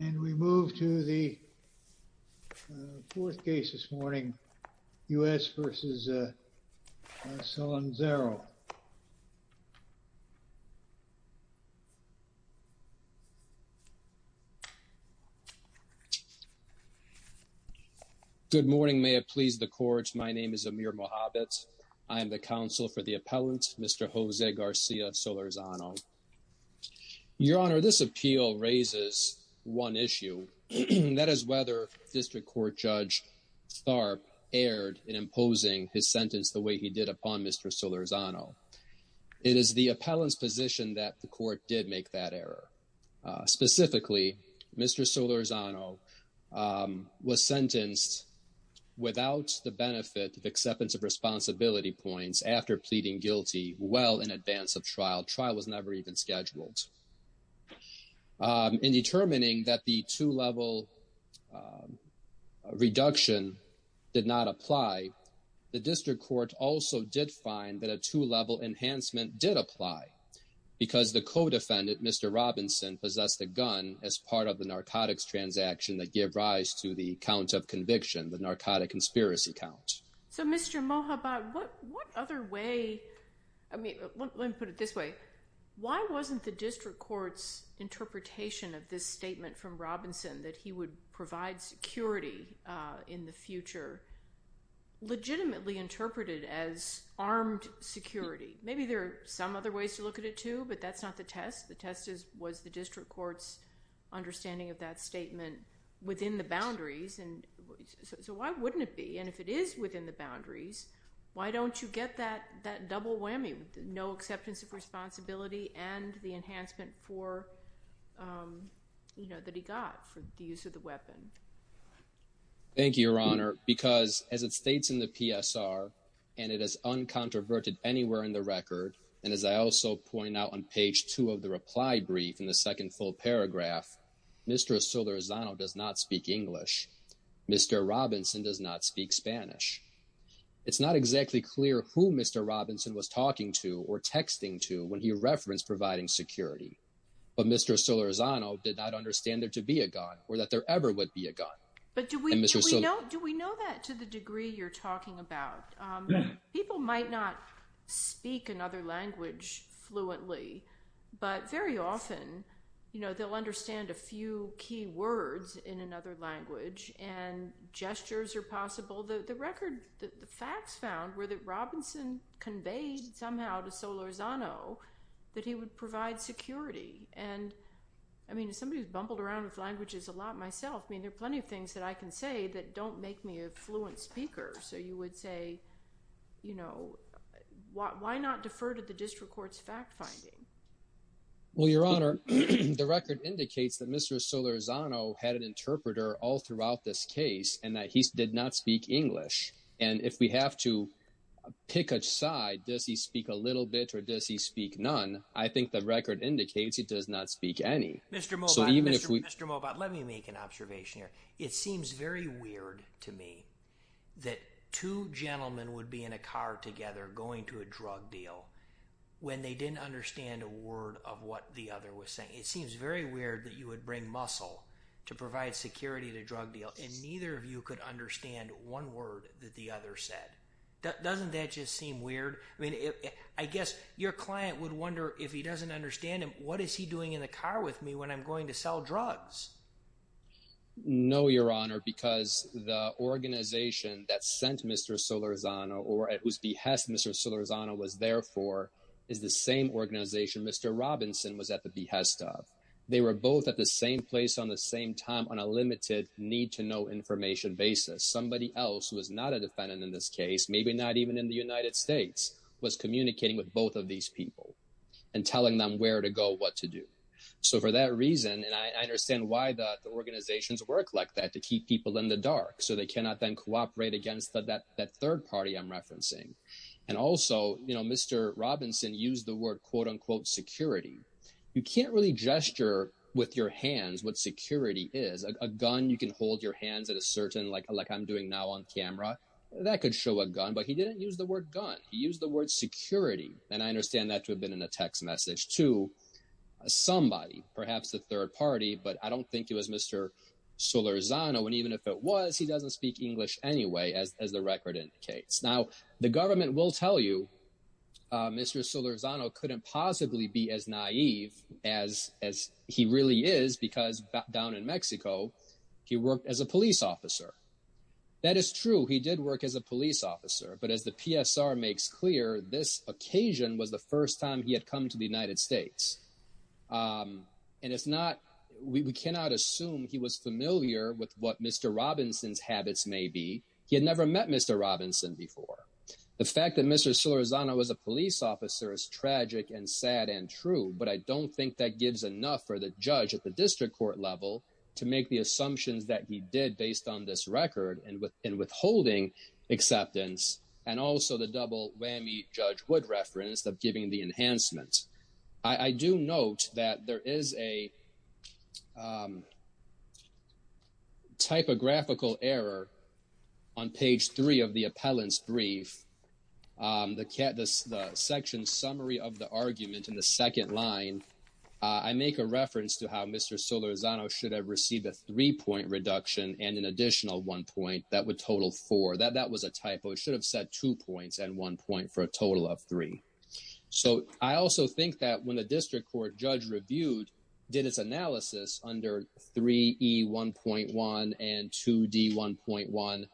And we move to the fourth case this morning, U.S. v. Solanzaro. Good morning, may it please the court. My name is Amir Mohabit. I am the counsel for the appellant, Mr. Jose Garcia Solarzano. Your Honor, this appeal raises one issue. That is whether District Court Judge Tharp erred in imposing his sentence the way he did upon Mr. Solarzano. It is the appellant's position that the court did make that error. Specifically, Mr. Solarzano was sentenced without the benefit of acceptance of responsibility points after pleading guilty well in advance of trial. Trial was never even scheduled. In determining that the two-level reduction did not apply, the District Court also did find that a two-level enhancement did apply because the co-defendant, Mr. Robinson, possessed a gun as part of the narcotics transaction that gave rise to the count of conviction, the narcotic conspiracy count. So Mr. Mohabit, what other way, let me put it this way, why wasn't the District Court's interpretation of this statement from Robinson that he would provide security in the future legitimately interpreted as armed security? Maybe there are some other ways to look at it, too, but that's not the test. The test was the District Court's understanding of that statement within the boundaries. So why wouldn't it be? And if it is within the boundaries, why don't you get that double whammy with no acceptance of responsibility and the enhancement for, you know, that he got for the use of the weapon? Thank you, Your Honor, because as it states in the PSR, and it is uncontroverted anywhere in the record, and as I also point out on page two of the reply brief in the second full paragraph, Mr. Osoriozano does not speak English. Mr. Robinson does not speak Spanish. It's not exactly clear who Mr. Robinson was talking to or texting to when he referenced providing security. But Mr. Osoriozano did not understand there to be a gun or that there ever would be a gun. But do we know that to the degree you're talking about? People might not speak another language fluently, but very often, you know, they'll understand a few key words in another language and gestures are possible. The record, the facts found were that Robinson conveyed somehow to Osoriozano that he would provide security. And, I mean, as somebody who's bumbled around with languages a lot myself, I mean, there are plenty of things that I can say that don't make me a fluent speaker. So you would say, you know, why not defer to the district court's fact finding? Well, Your Honor, the record indicates that Mr. Osoriozano had an interpreter all throughout this case and that he did not speak English. And if we have to pick a side, does he speak a little bit or does he speak none? I think the record indicates he does not speak any. Mr. Mobot, let me make an observation here. It seems very weird to me that two gentlemen would be in a car together going to a drug deal when they didn't understand a word of what the other was saying. It seems very weird that you would bring muscle to provide security at a drug deal and neither of you could understand one word that the other said. Doesn't that just seem weird? I mean, I guess your client would wonder if he doesn't understand him, what is he doing in the car with me when I'm going to sell drugs? No, Your Honor, because the organization that sent Mr. Osoriozano or at whose behest Mr. Osoriozano was there for is the same organization Mr. Robinson was at the behest of. They were both at the same place on the same time on a limited need-to-know information basis. Somebody else who was not a defendant in this case, maybe not even in the United States, was communicating with both of these people and telling them where to go, what to do. So for that reason, and I understand why the organizations work like that to keep people in the dark so they cannot then cooperate against that third party I'm referencing. And also, Mr. Robinson used the word, quote-unquote, security. You can't really gesture with your hands what security is. A gun you can hold your hands at a certain, like I'm doing now on camera, that could show a gun. But he didn't use the word gun. He used the word security. And I understand that to have been in a text message to somebody, perhaps a third party, but I don't think it was Mr. Osoriozano. And even if it was, he doesn't speak English anyway, as the record indicates. Now, the government will tell you Mr. Osoriozano couldn't possibly be as naive as he really is because back down in Mexico, he worked as a police officer. That is true. He did work as a police officer. But as the PSR makes clear, this occasion was the first time he had come to the United States. And it's not, we cannot assume he was familiar with what Mr. Robinson's habits may be. He had met Mr. Robinson before. The fact that Mr. Osoriozano was a police officer is tragic and sad and true, but I don't think that gives enough for the judge at the district court level to make the assumptions that he did based on this record and withholding acceptance and also the double whammy Judge Wood referenced of giving the enhancement. I do note that there is a typographical error on page three of the appellant's brief. The section summary of the argument in the second line, I make a reference to how Mr. Osoriozano should have received a three-point reduction and an additional one point that would total four. That was a typo. It should have set two points and one point for a total of three. So I also think that when the district court judge reviewed, did its analysis under 3E1.1 and 2D1.1,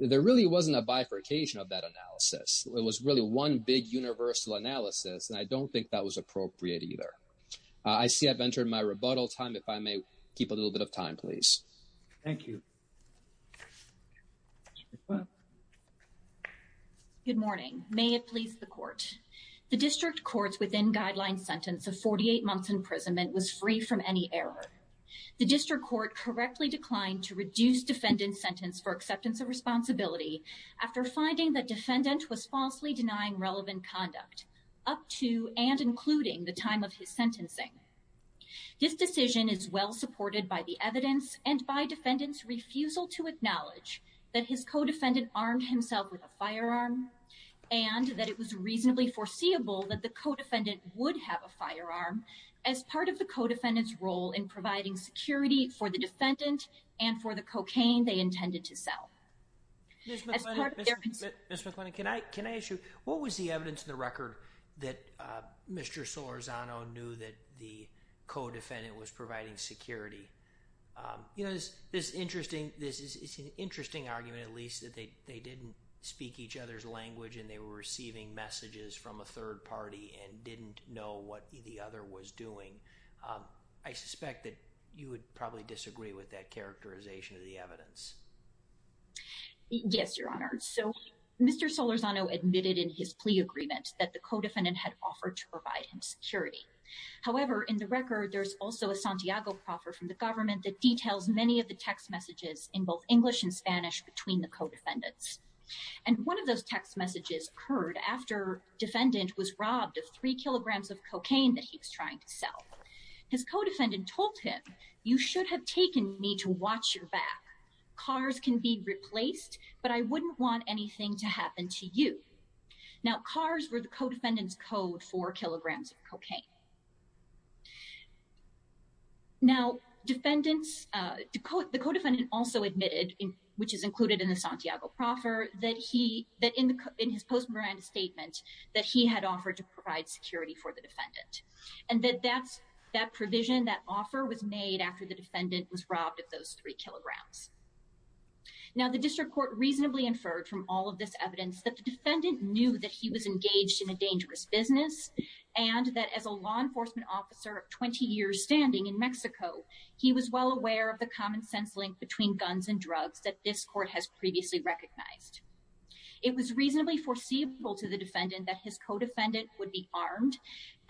there really wasn't a bifurcation of that analysis. It was really one big universal analysis, and I don't think that was appropriate either. I see I've entered my rebuttal time. If I may keep a little bit of time, please. Thank you. Good morning. May it please the court. The district court's within guideline sentence of 48 months imprisonment was free from any error. The district court correctly declined to reduce defendant's sentence for acceptance of responsibility after finding that defendant was falsely denying relevant conduct up to and including the time of his sentencing. This decision is well supported by the evidence and by defendant's refusal to acknowledge that his co-defendant armed himself with a firearm and that it was reasonably foreseeable that the co-defendant would have a firearm as part of the co-defendant's role in providing security for the defendant and for the cocaine they intended to sell. Ms. McLennan, can I ask you, what was the evidence in the record that Mr. Solorzano knew that the co-defendant was providing security? You know, this is an interesting argument, at least, that they didn't speak each other's language and they were receiving messages from a third party and didn't know what the other was doing. I suspect that you would probably disagree with that characterization of the evidence. Yes, Your Honor. So, Mr. Solorzano admitted in his plea agreement that the co-defendant had offered to provide him security. However, in the record, there's also a Santiago proffer from the government that details many of the text messages in both English and Spanish between the co-defendants. And one of those text messages occurred after defendant was robbed of three kilograms of cocaine that he was trying to sell. His co-defendant told him, you should have taken me to watch your back. Cars can be replaced, but I wouldn't want anything to happen to you. Now, cars were the co-defendant's code for kilograms of cocaine. Now, defendants, the co-defendant also admitted, which is included in the Santiago proffer, that he, that in his post-mortem statement, that he had offered to provide security for the defendant, and that that's, that provision, that offer was made after the defendant was robbed of those three kilograms. Now, the district court reasonably inferred from all of this evidence that the defendant knew that he was engaged in a dangerous business and that as a law enforcement officer of 20 years standing in Mexico, he was well aware of the common sense link between guns and drugs that this court has previously recognized. It was reasonably foreseeable to the defendant that his co-defendant would be armed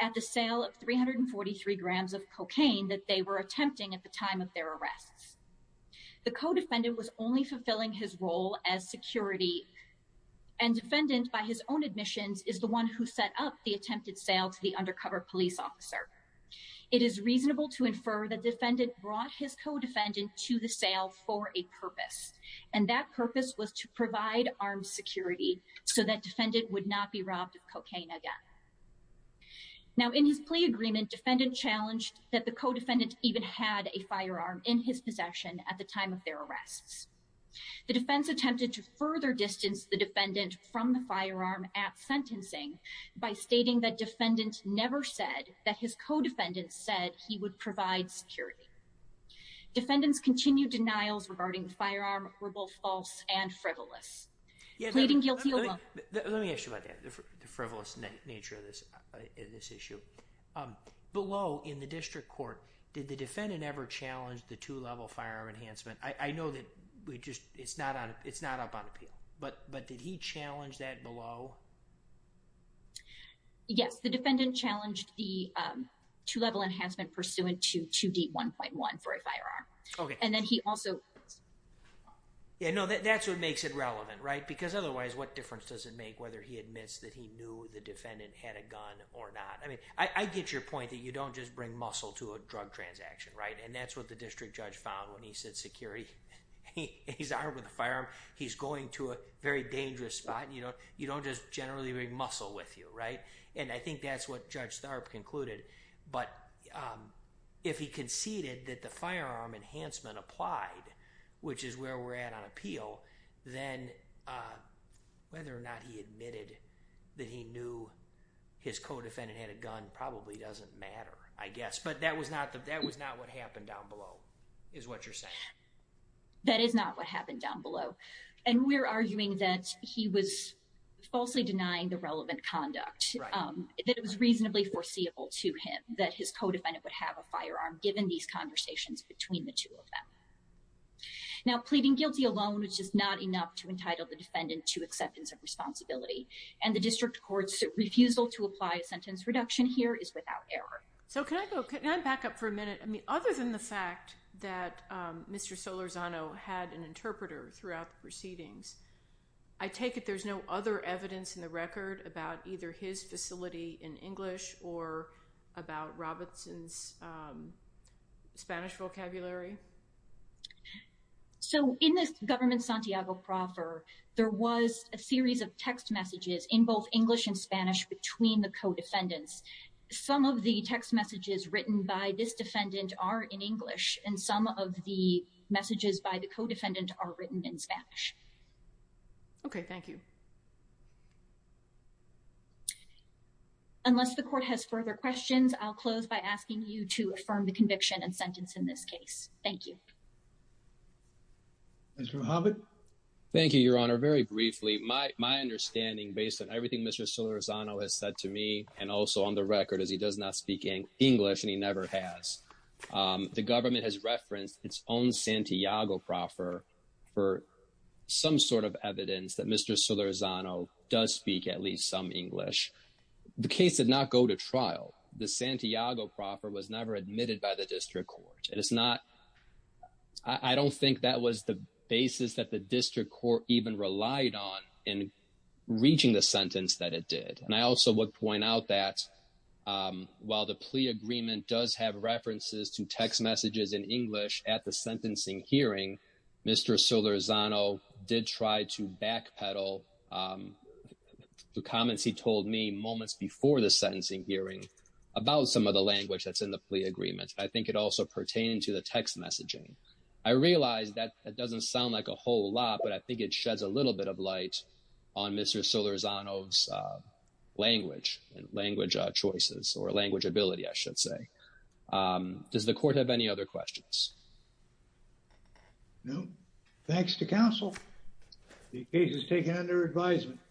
at the sale of 343 grams of cocaine that they were attempting at the time of their arrests. The co-defendant was only fulfilling his role as security and defendant by his own admissions is the one who set up the attempted sale to the undercover police officer. It is reasonable to infer the defendant brought his co-defendant to the sale for a purpose, and that purpose was to provide armed security so that defendant would not be robbed of cocaine again. Now in his plea agreement, defendant challenged that the co-defendant even had a firearm in his possession at the time of their arrests. The defense attempted to further distance the defendant from the firearm at sentencing by stating that defendant never said that his co-defendant said he would provide security. Defendants continued denials regarding the firearm were both false and frivolous. Let me ask you about that, the frivolous nature of this issue. Below in the district court, did the defendant ever challenge the two-level firearm enhancement? I know that we just it's not on it's not up on appeal, but did he challenge that below? Yes, the defendant challenged the two-level enhancement pursuant to 2D1.1 for a firearm, and then he also. Yeah, no, that's what makes it relevant, right? Because otherwise, what difference does it make whether he admits that he knew the defendant had a gun or not? I mean, I get your point that you don't just bring muscle to a drug transaction, right? And that's what the district judge found when he said security, he's armed with a firearm, he's going to a very dangerous spot. You don't just generally bring muscle with you, right? And I think that's Judge Tharp concluded. But if he conceded that the firearm enhancement applied, which is where we're at on appeal, then whether or not he admitted that he knew his co-defendant had a gun probably doesn't matter, I guess. But that was not what happened down below, is what you're saying? That is not what happened down below. And we're arguing that he was falsely denying the relevant conduct, that it was reasonably foreseeable to him that his co-defendant would have a firearm given these conversations between the two of them. Now, pleading guilty alone is just not enough to entitle the defendant to acceptance of responsibility. And the district court's refusal to apply a sentence reduction here is without error. So can I go back up for a minute? I mean, other than the fact that Mr. Solorzano had an interpreter throughout the record about either his facility in English or about Robinson's Spanish vocabulary? So in this government Santiago proffer, there was a series of text messages in both English and Spanish between the co-defendants. Some of the text messages written by this defendant are in English and some of the messages by the co-defendant are written in Spanish. Okay, thank you. Unless the court has further questions, I'll close by asking you to affirm the conviction and sentence in this case. Thank you. Mr. Mohamed. Thank you, Your Honor. Very briefly, my understanding based on everything Mr. Solorzano has said to me and also on the record is he does not speak English and he never has. The government has referenced its own Santiago proffer for some sort of evidence that Mr. Solorzano does speak at least some English. The case did not go to trial. The Santiago proffer was never admitted by the district court. And it's not, I don't think that was the basis that the district court even relied on in reaching the sentence that it did. And I also would point out that while the plea agreement does have references to text messages, Mr. Solorzano did try to backpedal the comments he told me moments before the sentencing hearing about some of the language that's in the plea agreement. I think it also pertained to the text messaging. I realized that that doesn't sound like a whole lot, but I think it sheds a little bit of light on Mr. Solorzano's language and language choices or language ability, I should say. Does the court have any other questions? No. Thanks to counsel. The case is taken under advisement.